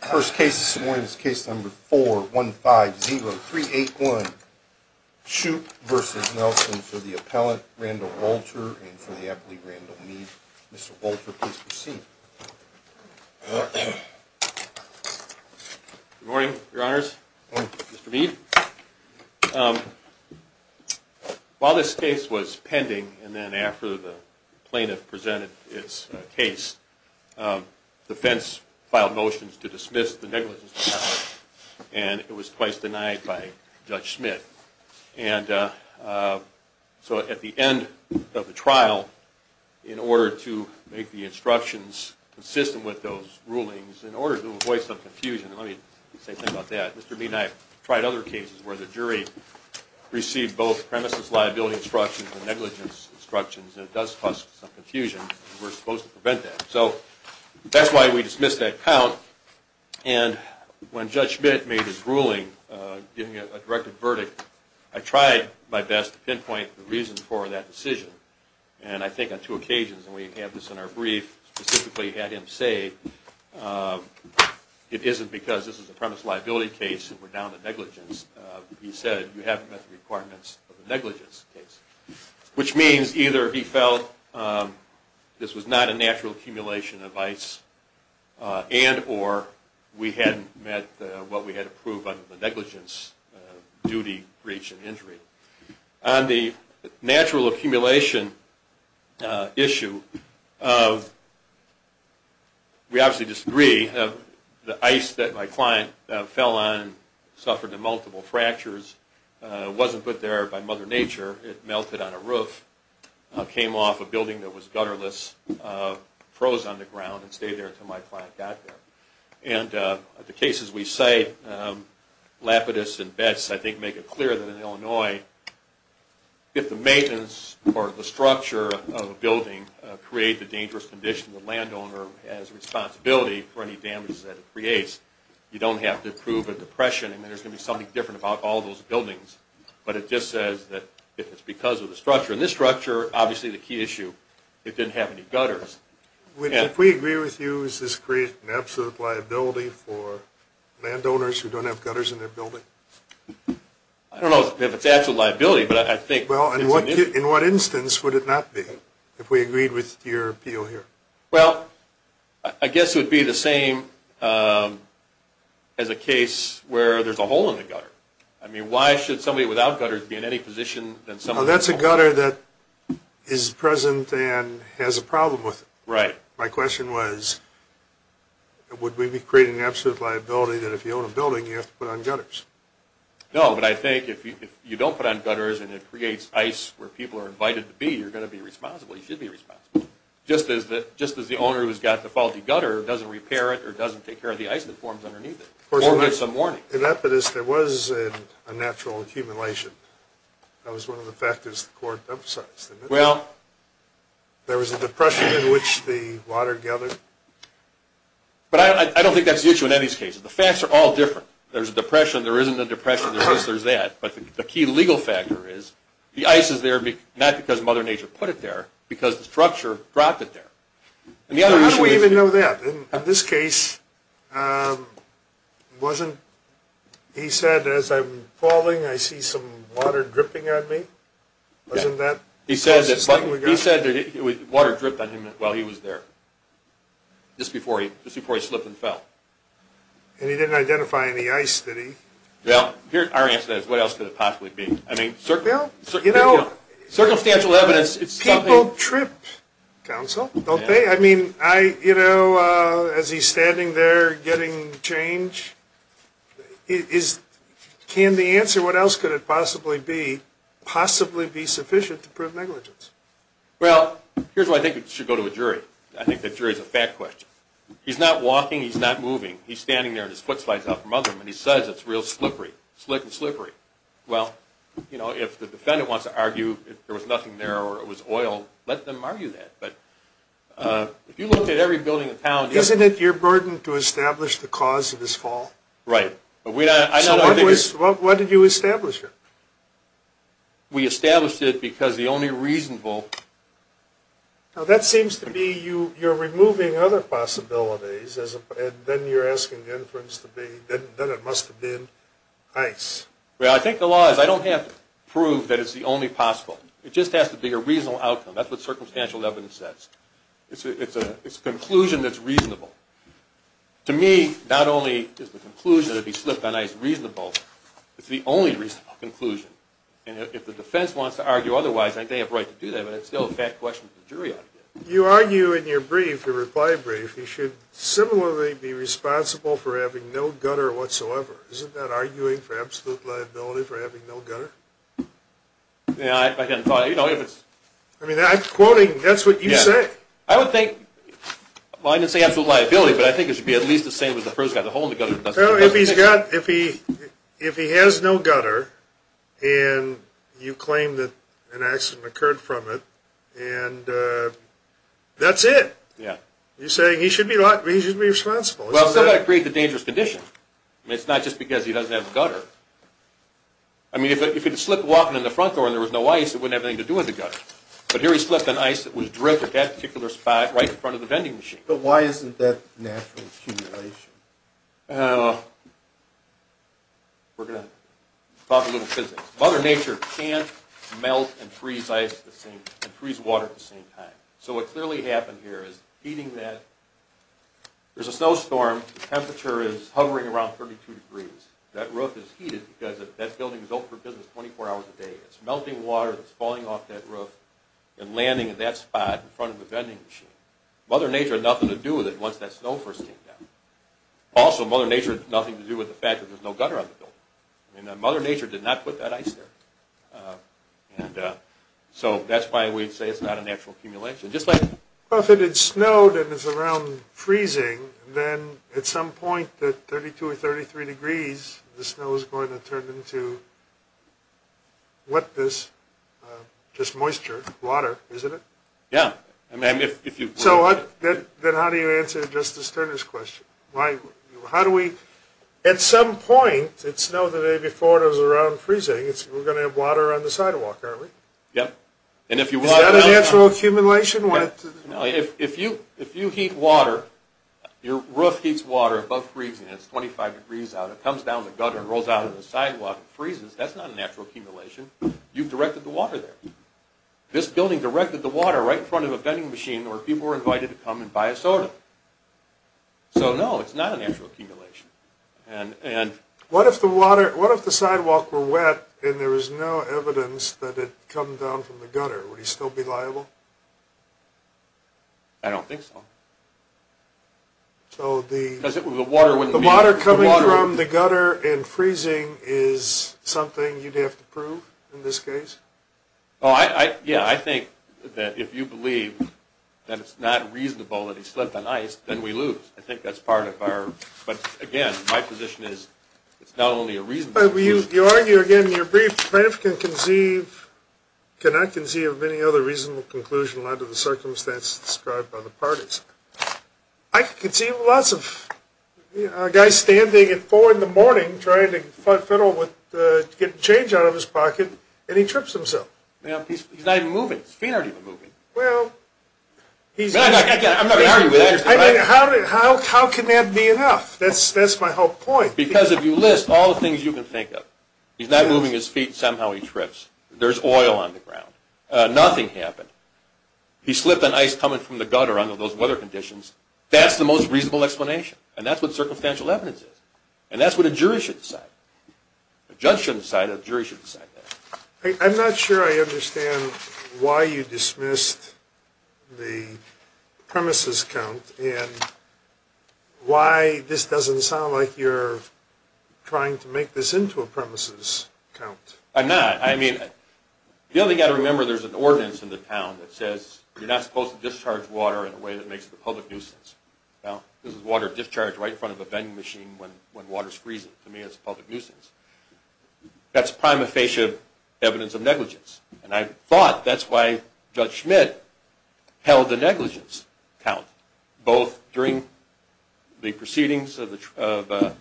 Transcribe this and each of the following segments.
First case this morning is case number 4150381, Shoup v. Nelson for the appellant, Randall Walter, and for the appellee, Randall Mead. Mr. Walter, please proceed. Good morning, your honors. Mr. Mead. While this case was pending and then after the plaintiff presented its case, defense filed motions to dismiss the negligence trial, and it was twice denied by Judge Smith. And so at the end of the trial, in order to make the instructions consistent with those rulings, in order to avoid some confusion, let me say something about that, Mr. Mead and I have tried other cases where the jury received both premises liability instructions and negligence instructions, and it does cause some confusion, and we're supposed to prevent that. So that's why we dismissed that count, and when Judge Smith made his ruling, giving a directed verdict, I tried my best to pinpoint the reason for that decision, and I think on two occasions, and we have this in our brief, specifically had him say it isn't because this is a premise liability case and we're down to negligence. He said you haven't met the requirements of the negligence case, which means either he felt this was not a natural accumulation of ice, and or we hadn't met what we had approved under the negligence duty breach and injury. So on the natural accumulation issue, we obviously disagree. The ice that my client fell on suffered multiple fractures, wasn't put there by Mother Nature, it melted on a roof, came off a building that was gutterless, froze on the ground and stayed there until my client got there. And the cases we cite, Lapidus and Betts, I think make it clear that in Illinois, if the maintenance or the structure of a building creates a dangerous condition, the landowner has a responsibility for any damage that it creates. You don't have to approve a depression and there's going to be something different about all those buildings, but it just says that if it's because of the structure, and this structure, obviously the key issue, it didn't have any gutters. If we agree with you, does this create an absolute liability for landowners who don't have gutters in their building? I don't know if it's an absolute liability, but I think... Well, in what instance would it not be, if we agreed with your appeal here? Well, I guess it would be the same as a case where there's a hole in the gutter. I mean, why should somebody without gutters be in any position... Well, that's a gutter that is present and has a problem with it. Right. My question was, would we be creating an absolute liability that if you own a building, you have to put on gutters? No, but I think if you don't put on gutters and it creates ice where people are invited to be, you're going to be responsible. You should be responsible. Just as the owner who's got the faulty gutter doesn't repair it or doesn't take care of the ice that forms underneath it. In that case, there was a natural accumulation. That was one of the factors the court emphasized. Well... There was a depression in which the water gathered. But I don't think that's the issue in any of these cases. The facts are all different. There's a depression, there isn't a depression, there's this, there's that. But the key legal factor is, the ice is there not because Mother Nature put it there, but because the structure dropped it there. How do we even know that? In this case, wasn't, he said, as I'm falling, I see some water dripping on me? Wasn't that... He said that water dripped on him while he was there, just before he slipped and fell. And he didn't identify any ice, did he? Well, our answer to that is, what else could it possibly be? I mean... Well, you know... Circumstantial evidence, it's something... It's a little trip, counsel, don't they? I mean, I, you know, as he's standing there getting change, is... Can the answer, what else could it possibly be, possibly be sufficient to prove negligence? Well, here's why I think it should go to a jury. I think the jury's a fat question. He's not walking, he's not moving. He's standing there and his foot slides out from under him and he says it's real slippery. Slick and slippery. Well, you know, if the defendant wants to argue there was nothing there or it was oil, let them argue that. But if you look at every building in town... Isn't it your burden to establish the cause of his fall? Right. So what did you establish? We established it because the only reasonable... Well, I think the law is I don't have to prove that it's the only possible. It just has to be a reasonable outcome. That's what circumstantial evidence says. It's a conclusion that's reasonable. To me, not only is the conclusion to be slipped on ice reasonable, it's the only reasonable conclusion. And if the defense wants to argue otherwise, I think they have a right to do that, but it's still a fat question for the jury. You argue in your brief, your reply brief, you should similarly be responsible for having no gutter whatsoever. Isn't that arguing for absolute liability for having no gutter? Yeah, I hadn't thought... I mean, I'm quoting, that's what you say. I would think... Well, I didn't say absolute liability, but I think it should be at least the same as the first guy. Well, if he has no gutter and you claim that an accident occurred from it, and that's it. Yeah. You're saying he should be responsible. Well, somebody created a dangerous condition. It's not just because he doesn't have a gutter. I mean, if he'd slipped walking in the front door and there was no ice, it wouldn't have anything to do with the gutter. But here he slipped on ice that was dripped at that particular spot right in front of the vending machine. But why isn't that natural accumulation? We're going to talk a little physics. Mother Nature can't melt and freeze water at the same time. So what clearly happened here is heating that... There's a snowstorm. The temperature is hovering around 32 degrees. That roof is heated because that building is open for business 24 hours a day. It's melting water that's falling off that roof and landing in that spot in front of the vending machine. Mother Nature had nothing to do with it once that snow first came down. Also, Mother Nature had nothing to do with the fact that there's no gutter on the building. Mother Nature did not put that ice there. So that's why we'd say it's not a natural accumulation. Just like if it had snowed and it's around freezing, then at some point at 32 or 33 degrees, the snow is going to turn into wetness, just moisture, water, isn't it? Yeah. So then how do you answer Justice Turner's question? At some point, it snowed the day before and it was around freezing, we're going to have water on the sidewalk, aren't we? Yep. Is that a natural accumulation? If you heat water, your roof heats water above freezing and it's 25 degrees out. It comes down the gutter and rolls out on the sidewalk and freezes. That's not a natural accumulation. You've directed the water there. This building directed the water right in front of a vending machine where people were invited to come and buy a soda. So no, it's not a natural accumulation. What if the sidewalk were wet and there was no evidence that it had come down from the gutter? Would he still be liable? I don't think so. The water coming from the gutter and freezing is something you'd have to prove in this case? Yeah, I think that if you believe that it's not reasonable that it slipped on ice, then we lose. I think that's part of our – but again, my position is it's not only a reasonable conclusion. You argue again in your brief that if you can conceive – cannot conceive of any other reasonable conclusion under the circumstances described by the parties. I can conceive of lots of guys standing at 4 in the morning trying to get change out of his pocket and he trips himself. He's not even moving. His feet aren't even moving. Well, he's – How can that be enough? That's my whole point. Because if you list all the things you can think of, he's not moving his feet and somehow he trips. There's oil on the ground. Nothing happened. He slipped on ice coming from the gutter under those weather conditions. That's the most reasonable explanation. And that's what circumstantial evidence is. And that's what a jury should decide. A judge shouldn't decide that. A jury should decide that. I'm not sure I understand why you dismissed the premises count and why this doesn't sound like you're trying to make this into a premises count. I'm not. I mean, the only thing I remember, there's an ordinance in the town that says you're not supposed to discharge water in a way that makes it a public nuisance. This is water discharged right in front of a vending machine when water's freezing. To me, it's a public nuisance. That's prima facie evidence of negligence. And I thought that's why Judge Schmidt held the negligence count, both during the proceedings of the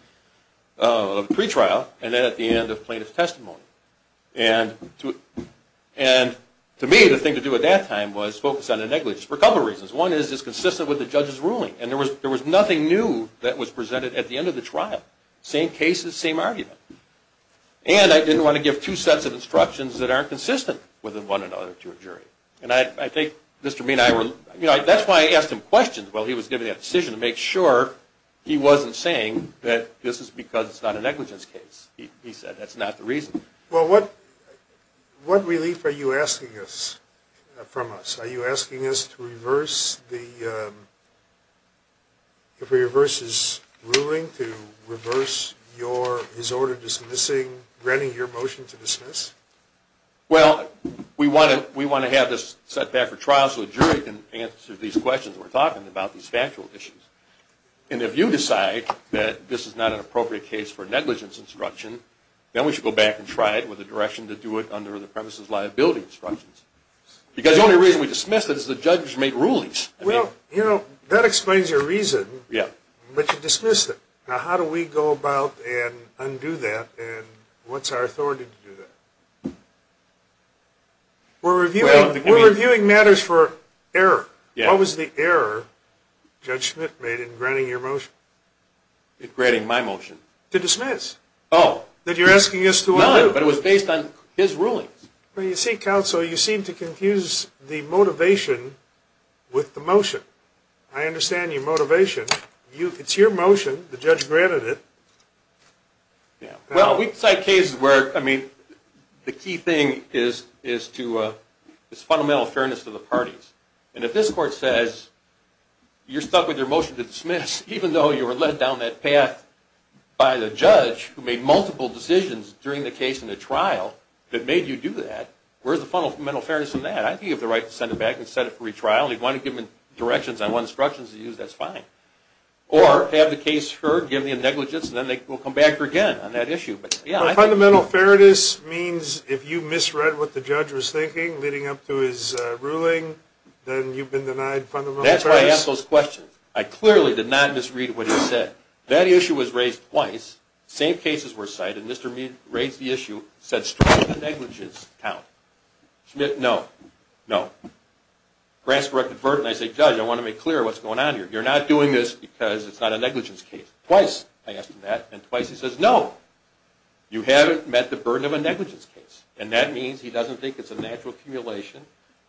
pretrial and then at the end of plaintiff's testimony. And to me, the thing to do at that time was focus on the negligence for a couple of reasons. One is it's consistent with the judge's ruling. And there was nothing new that was presented at the end of the trial. Same cases, same argument. And I didn't want to give two sets of instructions that aren't consistent with one another to a jury. That's why I asked him questions while he was giving that decision, to make sure he wasn't saying that this is because it's not a negligence case. He said that's not the reason. Well, what relief are you asking from us? Are you asking us to reverse the jury versus ruling, to reverse his order dismissing, granting your motion to dismiss? Well, we want to have this set back for trial so the jury can answer these questions we're talking about, these factual issues. And if you decide that this is not an appropriate case for negligence instruction, then we should go back and try it with a direction to do it under the premises liability instructions. Because the only reason we dismiss it is the judge made rulings. Well, you know, that explains your reason, but you dismissed it. Now, how do we go about and undo that, and what's our authority to do that? We're reviewing matters for error. What was the error Judge Schmidt made in granting your motion? In granting my motion? To dismiss. Oh. That you're asking us to undo. No, but it was based on his rulings. Well, you see, counsel, you seem to confuse the motivation with the motion. I understand your motivation. It's your motion. The judge granted it. Well, we cite cases where, I mean, the key thing is to this fundamental fairness to the parties. And if this court says you're stuck with your motion to dismiss even though you were led down that path by the judge who made multiple decisions during the case and the trial that made you do that, where's the fundamental fairness in that? I think you have the right to send it back and set it for retrial. If you want to give me directions, I want instructions to use, that's fine. Or have the case heard, give me a negligence, and then we'll come back again on that issue. But fundamental fairness means if you misread what the judge was thinking leading up to his ruling, then you've been denied fundamental fairness? That's why I asked those questions. I clearly did not misread what he said. That issue was raised twice. Same cases were cited. Mr. Mead raised the issue, said strike a negligence count. Schmitt, no. No. Grasp the burden. I say, Judge, I want to make clear what's going on here. You're not doing this because it's not a negligence case. Twice I asked him that, and twice he says no. You haven't met the burden of a negligence case, and that means he doesn't think it's a natural accumulation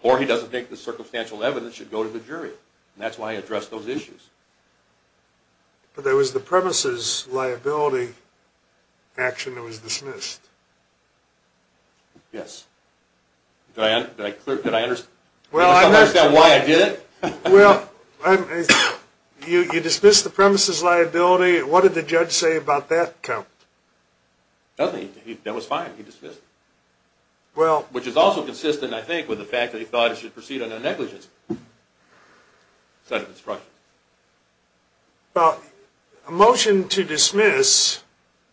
or he doesn't think the circumstantial evidence should go to the jury. And that's why I addressed those issues. But there was the premises liability action that was dismissed. Yes. Did I understand why I did it? Well, you dismissed the premises liability. What did the judge say about that count? Nothing. That was fine. He dismissed it, which is also consistent, I think, with the fact that he thought it should proceed under a negligence set of instructions. Well, a motion to dismiss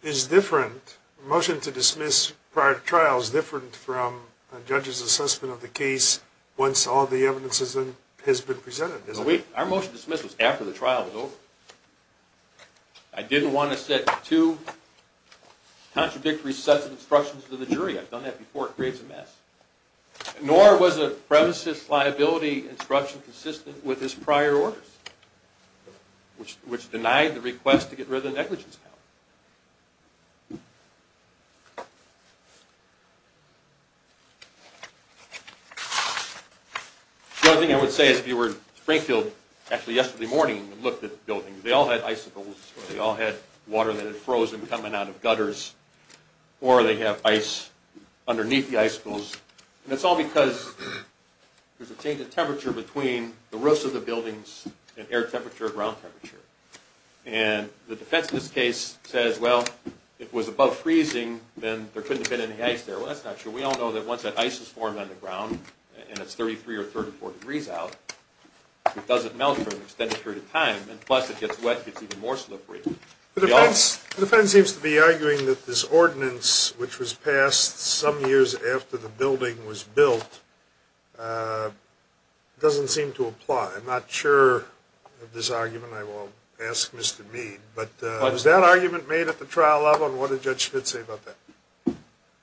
is different. A motion to dismiss prior to trial is different from a judge's assessment of the case once all the evidence has been presented, isn't it? Our motion to dismiss was after the trial was over. I didn't want to set two contradictory sets of instructions to the jury. I've done that before. It creates a mess. Nor was the premises liability instruction consistent with his prior orders, which denied the request to get rid of the negligence count. The other thing I would say is if you were in Springfield, actually yesterday morning and looked at the building, they all had icicles or they all had water that had frozen coming out of gutters or they have ice underneath the icicles, and it's all because there's a change in temperature between the roofs of the buildings and air temperature and ground temperature. The defense in this case says, well, if it was above freezing, then there couldn't have been any ice there. Well, that's not true. We all know that once that ice is formed on the ground and it's 33 or 34 degrees out, it doesn't melt for an extended period of time, and plus it gets wet, it gets even more slippery. The defense seems to be arguing that this ordinance, which was passed some years after the building was built, doesn't seem to apply. I'm not sure of this argument. I will ask Mr. Mead. But was that argument made at the trial level, and what did Judge Schmitt say about that?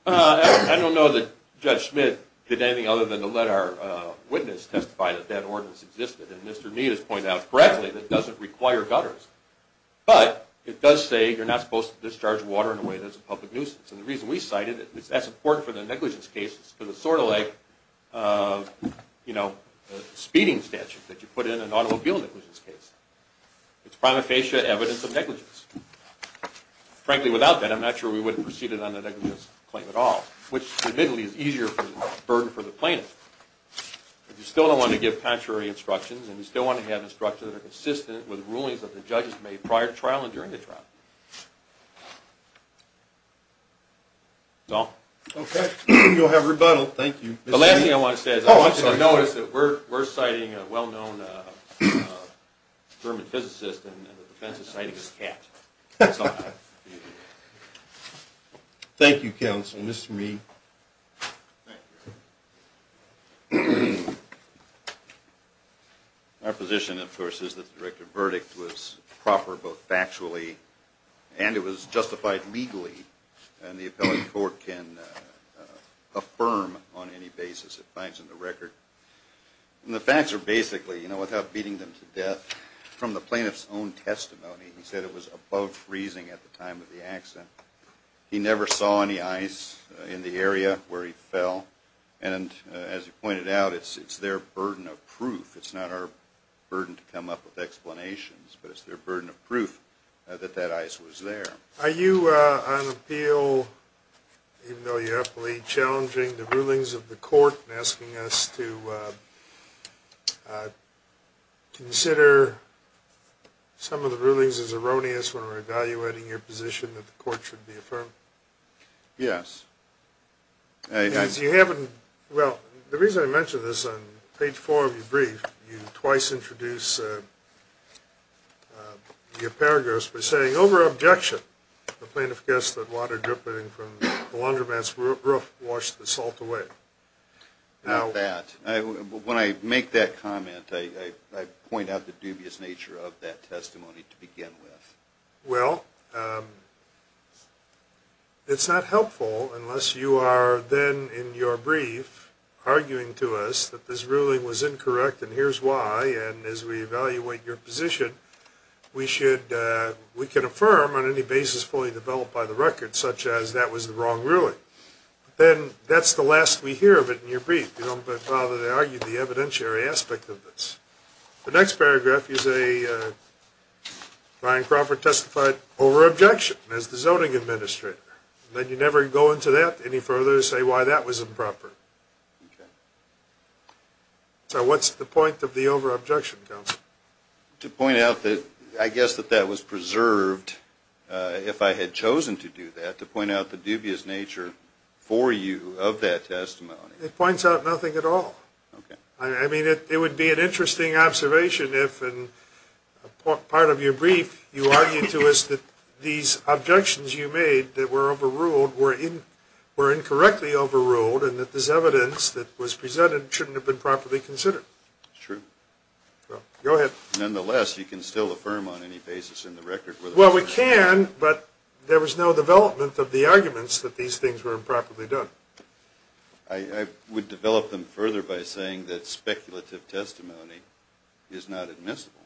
I don't know that Judge Schmitt did anything other than to let our witness testify that that ordinance existed, and Mr. Mead has pointed out correctly that it doesn't require gutters. But it does say you're not supposed to discharge water in a way that's a public nuisance, and the reason we cite it is that's important for the negligence case because it's sort of like a speeding statute that you put in an automobile negligence case. It's prima facie evidence of negligence. Frankly, without that, I'm not sure we would have proceeded on the negligence claim at all, which admittedly is easier for the burden for the plaintiff. But you still don't want to give contrary instructions, and you still want to have instructions that are consistent with rulings that the judges made prior to trial and during the trial. That's all. Okay. You'll have rebuttal. Thank you. The last thing I want to say is I want you to notice that we're citing a well-known German physicist, and the defense is citing a cat. Thank you, counsel. Mr. Mead. Thank you. Our position, of course, is that the director's verdict was proper both factually and it was justified legally, and the appellate court can affirm on any basis it finds in the record. And the facts are basically, you know, without beating them to death, from the plaintiff's own testimony, he said it was above freezing at the time of the accident. He never saw any ice in the area where he fell. And as you pointed out, it's their burden of proof. It's not our burden to come up with explanations, but it's their burden of proof that that ice was there. Are you on appeal, even though you're utterly challenging the rulings of the court and asking us to consider some of the rulings as erroneous when we're evaluating your position that the court should be affirmed? Yes. Because you haven't – well, the reason I mention this on page four of your brief, you twice introduce your paragraphs by saying, the plaintiff guessed that water dripping from the laundromat's roof washed the salt away. Not that. When I make that comment, I point out the dubious nature of that testimony to begin with. Well, it's not helpful unless you are then in your brief arguing to us that this ruling was incorrect and here's why, and as we evaluate your position, we should – we can affirm on any basis fully developed by the record, such as that was the wrong ruling. Then that's the last we hear of it in your brief. You don't bother to argue the evidentiary aspect of this. The next paragraph is a – Ryan Crawford testified over-objection as the zoning administrator. Then you never go into that any further to say why that was improper. Okay. So what's the point of the over-objection, counsel? To point out that – I guess that that was preserved, if I had chosen to do that, to point out the dubious nature for you of that testimony. It points out nothing at all. Okay. I mean, it would be an interesting observation if, in part of your brief, you argued to us that these objections you made that were overruled were incorrectly overruled and that this evidence that was presented shouldn't have been properly considered. True. Go ahead. Nonetheless, you can still affirm on any basis in the record whether – Well, we can, but there was no development of the arguments that these things were improperly done. I would develop them further by saying that speculative testimony is not admissible,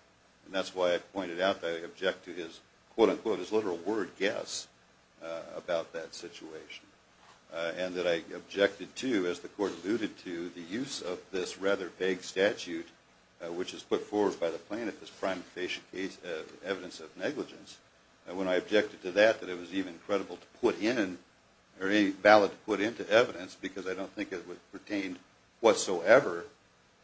and that's why I pointed out that I object to his, quote-unquote, his literal word, guess, about that situation, and that I objected to, as the Court alluded to, the use of this rather vague statute, which is put forward by the plaintiff as prime evidence of negligence, and when I objected to that, that it was even credible to put in or any valid to put into evidence because I don't think it pertained whatsoever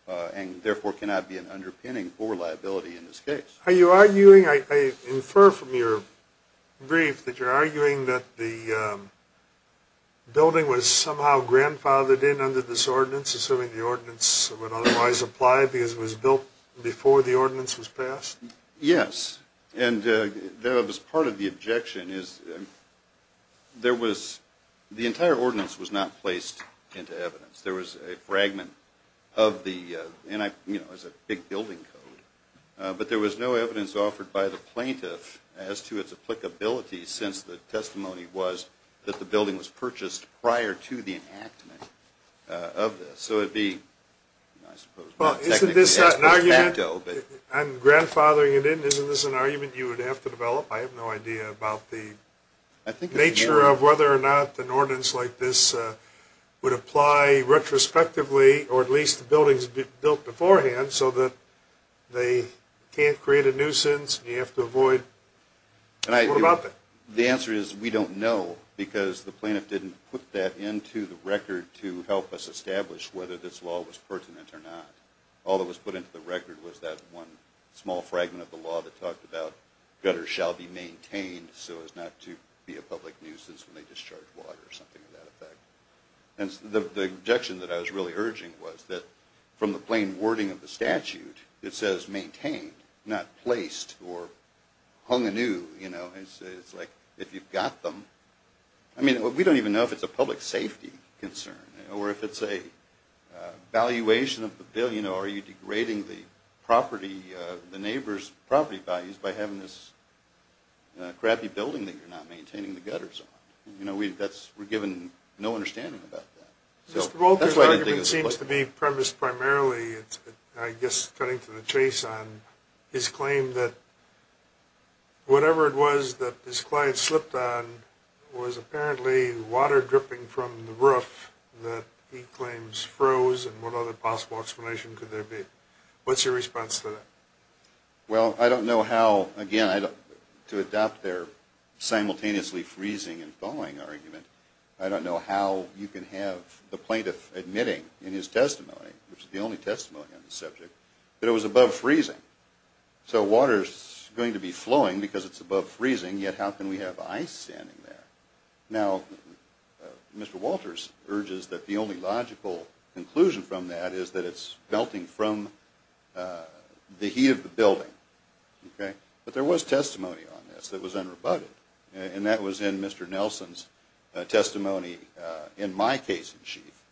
and therefore cannot be an underpinning for liability in this case. Are you arguing – I infer from your brief that you're arguing that the building was somehow grandfathered in under this ordinance, assuming the ordinance would otherwise apply because it was built before the ordinance was passed? Yes, and that was part of the objection is there was – the entire ordinance was not placed into evidence. There was a fragment of the – you know, it was a big building code, but there was no evidence offered by the plaintiff as to its applicability since the testimony was that the building was purchased prior to the enactment of this. So it would be, I suppose – Well, isn't this an argument? I'm grandfathering it in. Isn't this an argument you would have to develop? I have no idea about the nature of whether or not an ordinance like this would apply retrospectively or at least the buildings would be built beforehand so that they can't create a nuisance and you have to avoid – what about that? The answer is we don't know because the plaintiff didn't put that into the record to help us establish whether this law was pertinent or not. All that was put into the record was that one small fragment of the law that talked about gutters shall be maintained so as not to be a public nuisance when they discharge water or something to that effect. And the objection that I was really urging was that from the plain wording of the statute it says maintained, not placed or hung anew. You know, it's like if you've got them – I mean, we don't even know if it's a public safety concern or if it's a valuation of the building or are you degrading the property – a crappy building that you're not maintaining the gutters on. You know, we're given no understanding about that. Mr. Volker's argument seems to be premised primarily, I guess, cutting to the chase, on his claim that whatever it was that his client slipped on was apparently water dripping from the roof that he claims froze and what other possible explanation could there be? What's your response to that? Well, I don't know how – again, to adopt their simultaneously freezing and thawing argument, I don't know how you can have the plaintiff admitting in his testimony, which is the only testimony on the subject, that it was above freezing. So water's going to be flowing because it's above freezing, yet how can we have ice standing there? Now, Mr. Walters urges that the only logical conclusion from that is that it's melting from the heat of the building. But there was testimony on this that was unrebutted, and that was in Mr. Nelson's testimony in my case-in-chief,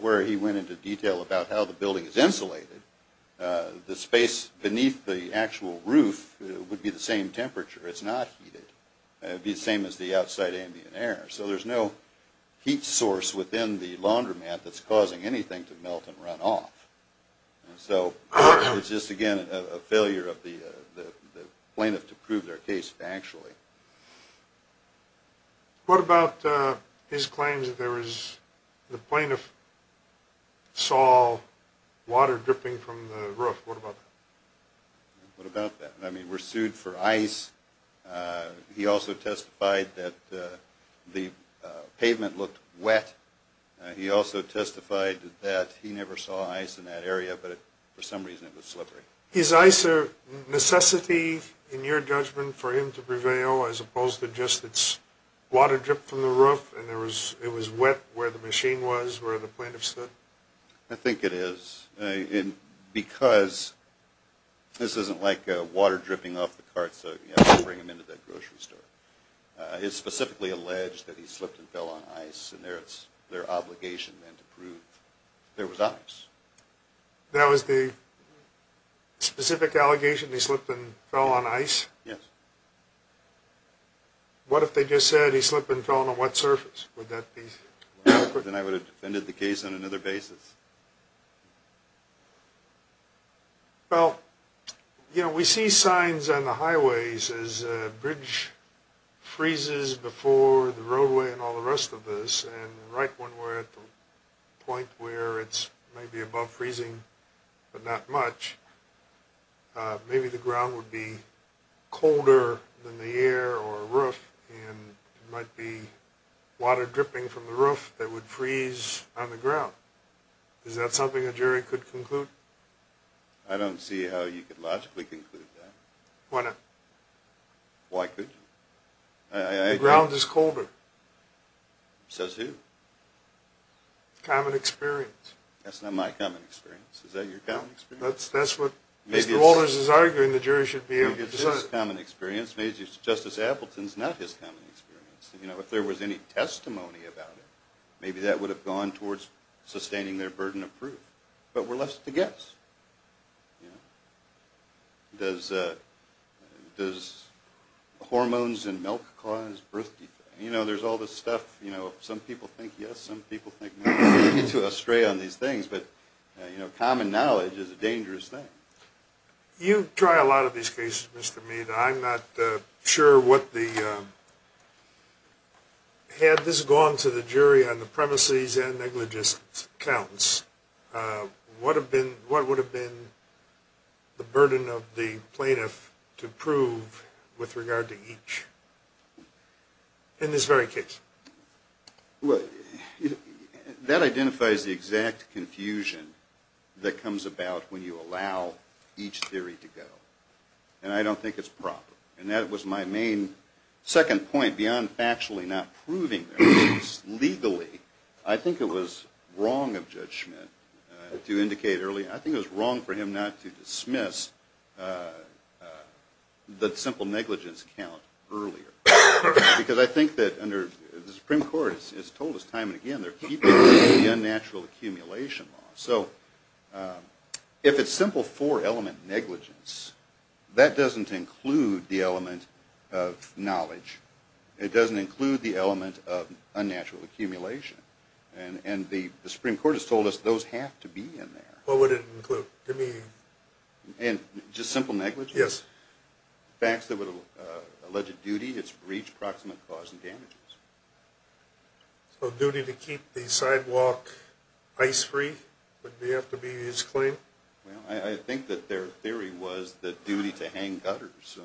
where he went into detail about how the building is insulated. The space beneath the actual roof would be the same temperature. It's not heated. It would be the same as the outside ambient air. So there's no heat source within the laundromat that's causing anything to melt and run off. So it's just, again, a failure of the plaintiff to prove their case actually. What about his claims that the plaintiff saw water dripping from the roof? What about that? What about that? I mean, we're sued for ice. He also testified that the pavement looked wet. He also testified that he never saw ice in that area, but for some reason it was slippery. Is ice a necessity in your judgment for him to prevail as opposed to just it's water dripped from the roof and it was wet where the machine was, where the plaintiff stood? I think it is. Because this isn't like water dripping off the cart so you have to bring them into that grocery store. It's specifically alleged that he slipped and fell on ice, and it's their obligation then to prove there was ice. That was the specific allegation? He slipped and fell on ice? Yes. What if they just said he slipped and fell on a wet surface? Would that be? Then I would have defended the case on another basis. Well, you know, we see signs on the highways as a bridge freezes before the roadway and all the rest of this, and right when we're at the point where it's maybe above freezing but not much, maybe the ground would be colder than the air or roof, and it might be water dripping from the roof that would freeze on the ground. Is that something a jury could conclude? I don't see how you could logically conclude that. Why not? Why could you? The ground is colder. Says who? Common experience. That's not my common experience. Is that your common experience? Mr. Walters is arguing the jury should be able to decide. Maybe it's his common experience. Maybe Justice Appleton's not his common experience. If there was any testimony about it, maybe that would have gone towards sustaining their burden of proof. But we're left to guess. Does hormones in milk cause birth defects? There's all this stuff. Some people think yes, some people think no. Common knowledge is a dangerous thing. You try a lot of these cases, Mr. Mead. I'm not sure what the – had this gone to the jury on the premises and negligence counts, what would have been the burden of the plaintiff to prove with regard to each in this very case? Well, that identifies the exact confusion that comes about when you allow each theory to go. And I don't think it's proper. And that was my main second point beyond factually not proving this. Legally, I think it was wrong of Judge Schmitt to indicate earlier. I think it was wrong for him not to dismiss the simple negligence count earlier. Because I think that under – the Supreme Court has told us time and again they're keeping the unnatural accumulation law. So if it's simple four-element negligence, that doesn't include the element of knowledge. It doesn't include the element of unnatural accumulation. And the Supreme Court has told us those have to be in there. What would it include? Give me – Just simple negligence? Yes. Facts that would – alleged duty, it's breach, proximate cause, and damages. So duty to keep the sidewalk ice-free would have to be his claim? Well, I think that their theory was the duty to hang gutters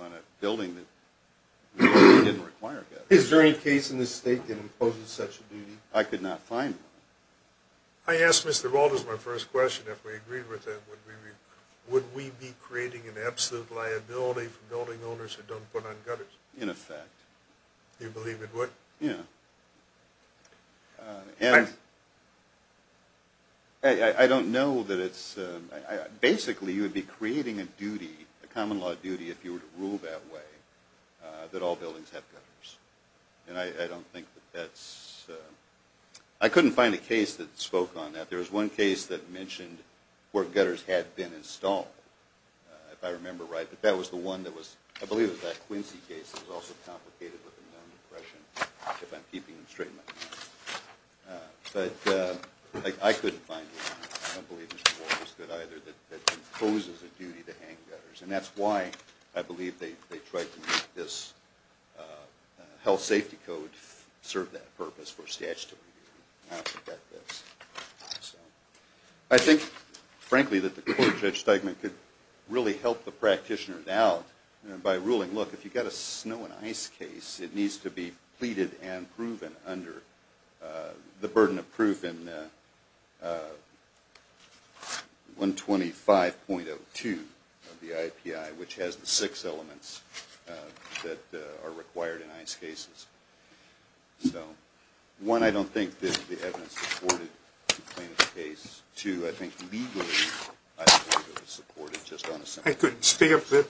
on a building that didn't require gutters. Is there any case in this state that imposes such a duty? I could not find one. I asked Mr. Walters my first question. If we agreed with him, would we be creating an absolute liability for building owners who don't put on gutters? In effect. You believe it would? Yeah. I don't know that it's – basically, you would be creating a duty, a common law duty, if you were to rule that way, that all buildings have gutters. And I don't think that that's – I couldn't find a case that spoke on that. There was one case that mentioned where gutters had been installed, if I remember right. But that was the one that was – I believe it was that Quincy case. It was also complicated with a known impression, if I'm keeping them straight in my mind. But I couldn't find one. I don't believe Mr. Walters could either, that imposes a duty to hang gutters. And that's why I believe they tried to make this health safety code serve that purpose for statutory reasons. I think, frankly, that the court, Judge Steigman, could really help the practitioners out by ruling, look, if you've got a snow and ice case, it needs to be pleaded and proven under the burden of proof in 125.02 of the IAPI, which has the six elements that are required in ice cases. So, one, I don't think this is the evidence-supported complaint of the case. Two, I think legally, I don't think it was supported, just on a simple basis.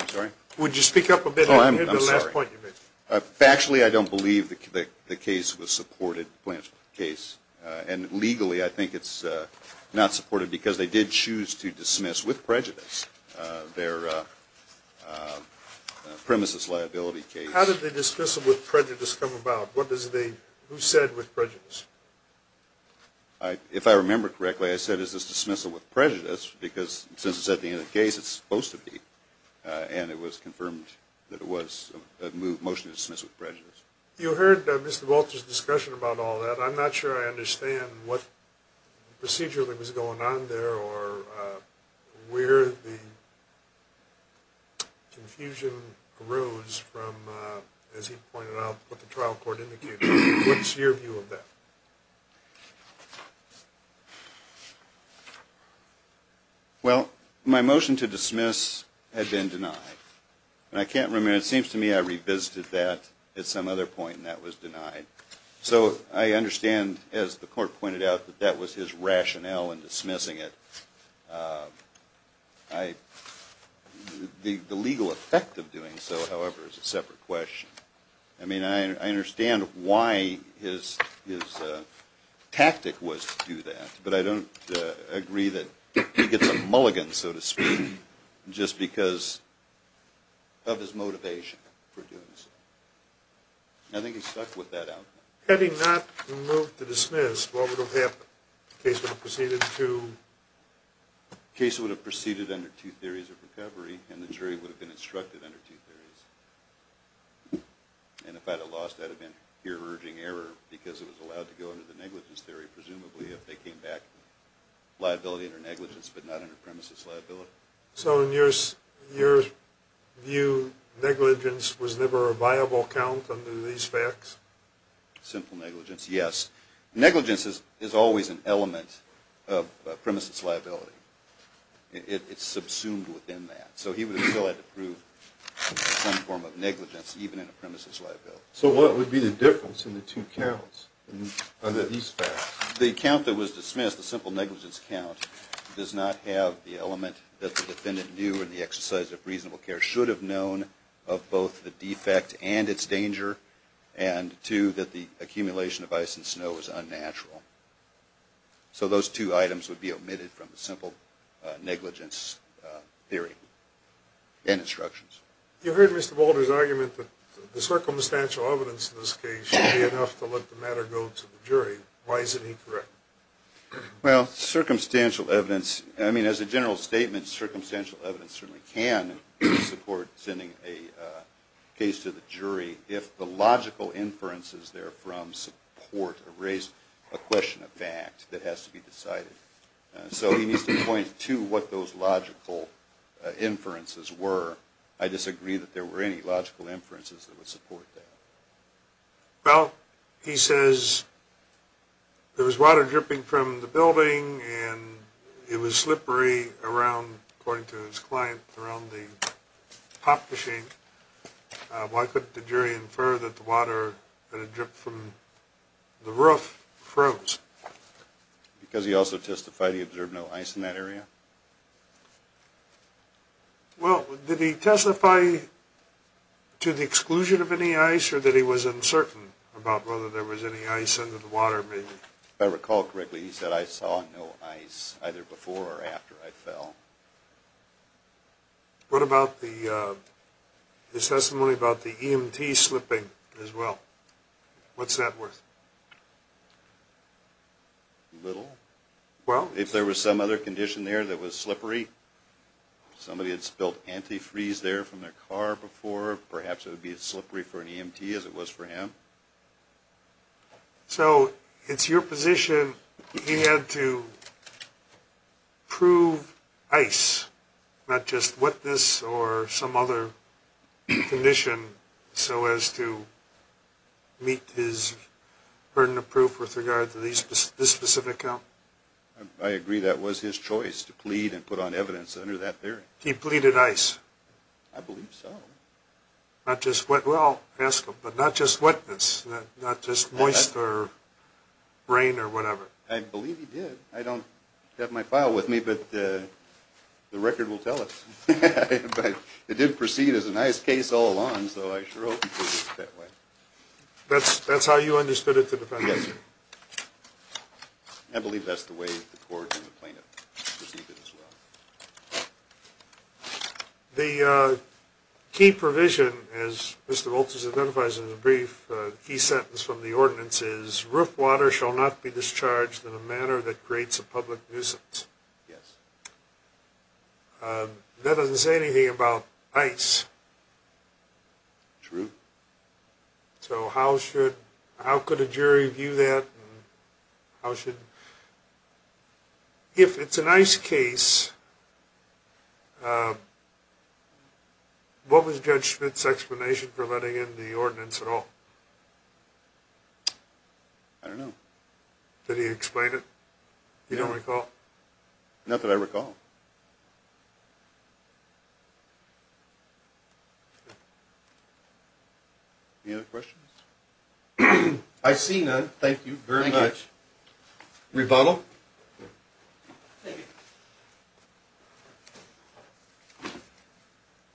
I'm sorry? Would you speak up a bit? I'm sorry. Factually, I don't believe the case was supported, the plaintiff's case. And legally, I think it's not supported because they did choose to dismiss with prejudice their premises liability case. How did the dismissal with prejudice come about? What does the – who said with prejudice? If I remember correctly, I said, is this dismissal with prejudice? That's because, since I said the end of the case, it's supposed to be. And it was confirmed that it was a motion to dismiss with prejudice. You heard Mr. Walters' discussion about all that. I'm not sure I understand what procedure that was going on there or where the confusion arose from, as he pointed out, what the trial court indicated. What's your view of that? Well, my motion to dismiss had been denied. And I can't remember – it seems to me I revisited that at some other point and that was denied. So I understand, as the court pointed out, that that was his rationale in dismissing it. The legal effect of doing so, however, is a separate question. I mean, I understand why his tactic was to do that. But I don't agree that he gets a mulligan, so to speak, just because of his motivation for doing so. I think he stuck with that outcome. Had he not moved to dismiss, what would have happened? The case would have proceeded to? The case would have proceeded under two theories of recovery and the jury would have been instructed under two theories. And if I'd have lost, I'd have been here urging error because it was allowed to go under the negligence theory, presumably, if they came back liability under negligence but not under premises liability. So in your view, negligence was never a viable count under these facts? Simple negligence, yes. Negligence is always an element of premises liability. It's subsumed within that. So he would have still had to prove some form of negligence even in a premises liability. So what would be the difference in the two counts under these facts? The count that was dismissed, the simple negligence count, does not have the element that the defendant knew in the exercise of reasonable care should have known of both the defect and its danger and two, that the accumulation of ice and snow was unnatural. So those two items would be omitted from the simple negligence theory and instructions. You heard Mr. Boulder's argument that the circumstantial evidence in this case should be enough to let the matter go to the jury. Why isn't he correct? Well, circumstantial evidence, I mean, as a general statement, circumstantial evidence certainly can support sending a case to the jury if the logical inferences therefrom support or raise a question of fact that has to be decided. So he needs to point to what those logical inferences were. I disagree that there were any logical inferences that would support that. Well, he says there was water dripping from the building and it was slippery around, according to his client, around the pop machine. Why couldn't the jury infer that the water that had dripped from the roof froze? Because he also testified he observed no ice in that area. Well, did he testify to the exclusion of any ice or that he was uncertain about whether there was any ice under the water, maybe? If I recall correctly, he said I saw no ice either before or after I fell. What about the testimony about the EMT slipping as well? What's that worth? Little. Well? If there was some other condition there that was slippery, somebody had spilled antifreeze there from their car before, perhaps it would be as slippery for an EMT as it was for him. So it's your position he had to prove ice, not just wetness or some other condition, so as to meet his burden of proof with regard to this specific account? I agree that was his choice to plead and put on evidence under that theory. He pleaded ice? I believe so. Well, I'll ask him, but not just wetness, not just moist or rain or whatever? I believe he did. I don't have my file with me, but the record will tell us. But it did proceed as an ice case all along, so I sure hope he proved it that way. That's how you understood it to defend him? Yes, sir. I believe that's the way the court and the plaintiff perceived it as well. The key provision, as Mr. Wolters identifies in the brief, the key sentence from the ordinance is, roof water shall not be discharged in a manner that creates a public nuisance. Yes. That doesn't say anything about ice. True. So how could a jury view that? If it's an ice case, what was Judge Smith's explanation for letting in the ordinance at all? I don't know. Did he explain it? You don't recall? Not that I recall. Any other questions? I see none. Thank you very much. Thank you. Rebuttal? Thank you.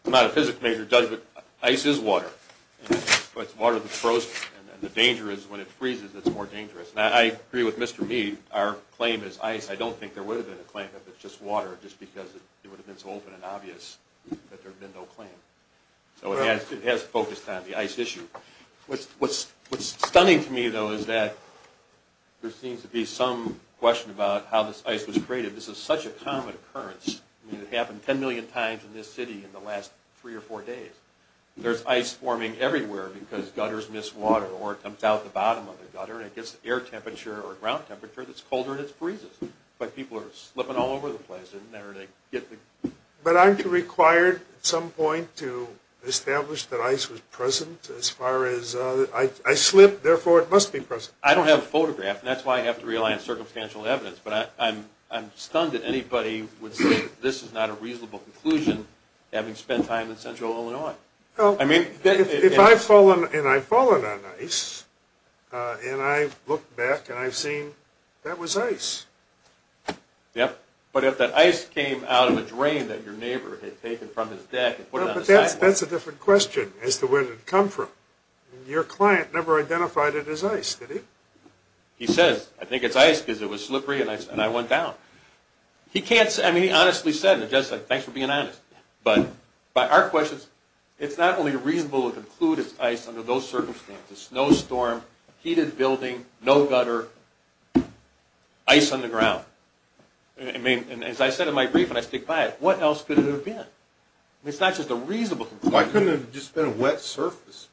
I'm not a physics major, Judge, but ice is water. It's water that's frozen, and the danger is when it freezes, it's more dangerous. I agree with Mr. Mead. Our claim is ice. I don't think there would have been a claim if it was just water, just because it would have been so open and obvious that there would have been no claim. It has focused on the ice issue. What's stunning to me, though, is that there seems to be some question about how this ice was created. This is such a common occurrence. It happened 10 million times in this city in the last three or four days. There's ice forming everywhere because gutters miss water, or it comes out the bottom of the gutter, and it gets an air temperature or a ground temperature that's colder, and it freezes. But people are slipping all over the place. But aren't you required at some point to establish that ice was present as far as I slip, therefore it must be present. I don't have a photograph, and that's why I have to rely on circumstantial evidence, but I'm stunned that anybody would say this is not a reasonable conclusion having spent time in central Illinois. If I've fallen on ice, and I look back and I've seen that was ice. Yep. But if that ice came out of a drain that your neighbor had taken from his deck and put it on the sidewalk. That's a different question as to where it had come from. Your client never identified it as ice, did he? He says, I think it's ice because it was slippery and I went down. He can't say, I mean, he honestly said, and it's just like, thanks for being honest. But by our questions, it's not only reasonable to conclude it's ice under those circumstances, it's a snowstorm, heated building, no gutter, ice on the ground. I mean, as I said in my brief and I stick by it, what else could it have been? I mean, it's not just a reasonable conclusion. Why couldn't it have just been a wet surface?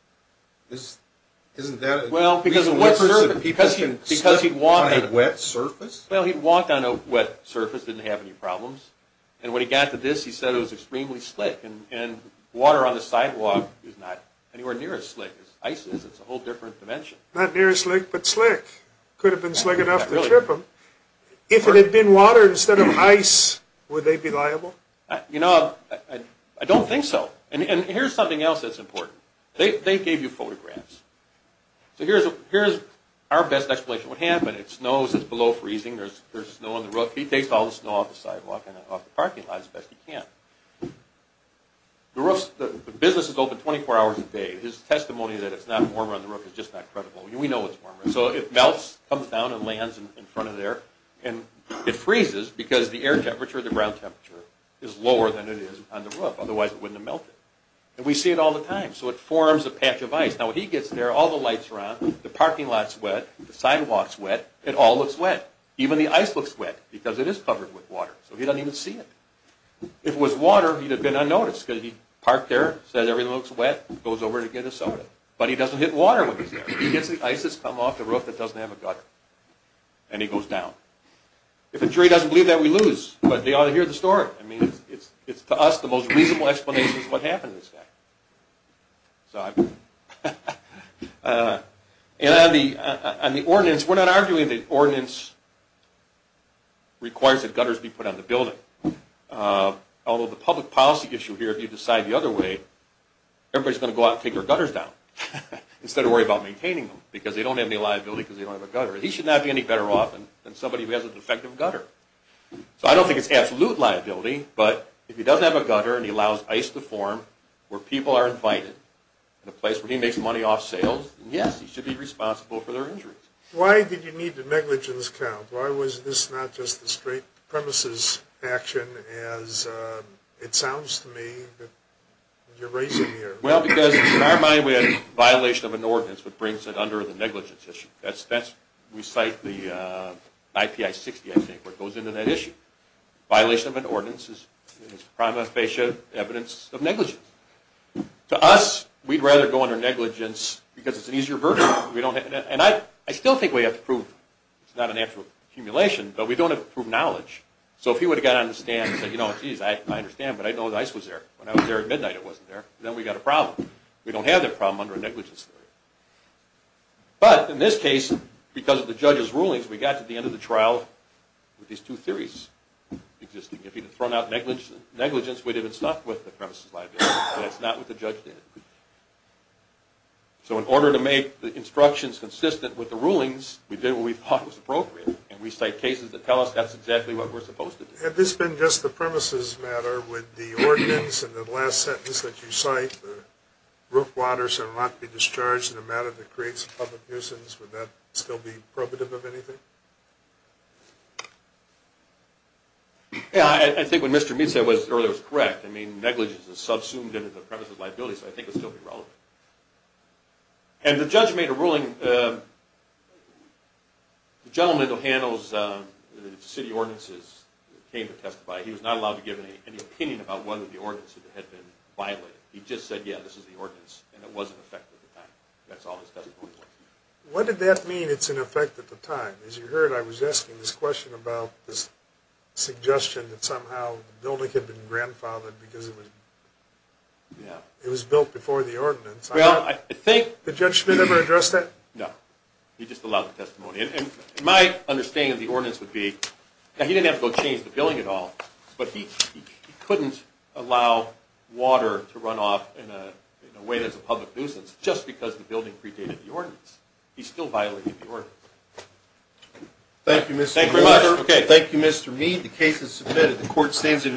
Well, because a wet surface. Because he'd walked on a wet surface. Well, he'd walked on a wet surface, didn't have any problems. And when he got to this, he said it was extremely slick. And water on the sidewalk is not anywhere near as slick as ice is. It's a whole different dimension. Not near as slick, but slick. Could have been slick enough to trip him. If it had been water instead of ice, would they be liable? You know, I don't think so. And here's something else that's important. They gave you photographs. So here's our best explanation of what happened. It snows, it's below freezing, there's snow on the road. He takes all the snow off the sidewalk and off the parking lot as best he can. The business is open 24 hours a day. His testimony that it's not warmer on the road is just not credible. We know it's warmer. So it melts, comes down and lands in front of there. And it freezes because the air temperature, the ground temperature, is lower than it is on the road. Otherwise, it wouldn't have melted. And we see it all the time. So it forms a patch of ice. Now, when he gets there, all the lights are on, the parking lot's wet, the sidewalk's wet, it all looks wet. Even the ice looks wet because it is covered with water. So he doesn't even see it. If it was water, he'd have been unnoticed because he parked there, said everything looks wet, goes over to get a soda. But he doesn't hit water when he's there. He gets the ice that's come off the roof that doesn't have a gutter. And he goes down. If a jury doesn't believe that, we lose. But they ought to hear the story. I mean, it's to us the most reasonable explanation of what happened to this guy. And on the ordinance, we're not arguing the ordinance requires that gutters be put on the building. Although the public policy issue here, if you decide the other way, everybody's going to go out and take their gutters down instead of worry about maintaining them because they don't have any liability because they don't have a gutter. He should not be any better off than somebody who has a defective gutter. So I don't think it's absolute liability. But if he doesn't have a gutter and he allows ice to form where people are invited in a place where he makes money off sales, yes, he should be responsible for their injuries. Why did you need the negligence count? Why was this not just a straight premises action as it sounds to me that you're raising here? Well, because in our mind, we had a violation of an ordinance that brings it under the negligence issue. We cite the IPI-60, I think, where it goes into that issue. Violation of an ordinance is prima facie evidence of negligence. To us, we'd rather go under negligence because it's an easier verdict. And I still think we have to prove it's not an actual accumulation, but we don't have to prove knowledge. So if he would have got on the stand and said, you know, geez, I understand, but I didn't know the ice was there. When I was there at midnight, it wasn't there. Then we got a problem. We don't have that problem under a negligence theory. But in this case, because of the judge's rulings, we got to the end of the trial with these two theories existing. If he had thrown out negligence, we'd have been stuck with the premises liability, but that's not what the judge did. So in order to make the instructions consistent with the rulings, we did what we thought was appropriate, and we cite cases that tell us that's exactly what we're supposed to do. Had this been just the premises matter with the ordinance and the last sentence that you cite, the roof waters are not to be discharged in a matter that creates public nuisance, would that still be probative of anything? I think what Mr. Mead said earlier was correct. I mean, negligence is subsumed into the premises liability, so I think it would still be relevant. And the judge made a ruling. The gentleman that handles the city ordinances came to testify. He was not allowed to give any opinion about whether the ordinance had been violated. He just said, yeah, this is the ordinance, and it was in effect at the time. That's all his testimony was. What did that mean, it's in effect at the time? As you heard, I was asking this question about this suggestion that somehow the building had been grandfathered because it was built before the ordinance. Well, I think... Did Judge Schmidt ever address that? No. He just allowed the testimony. And my understanding of the ordinance would be that he didn't have to go change the billing at all, but he couldn't allow water to run off in a way that's a public nuisance just because the building predated the ordinance. He's still violating the ordinance. Thank you, Mr. Mead. Thank you very much. Okay, thank you, Mr. Mead. The case is submitted. The court stands in recess.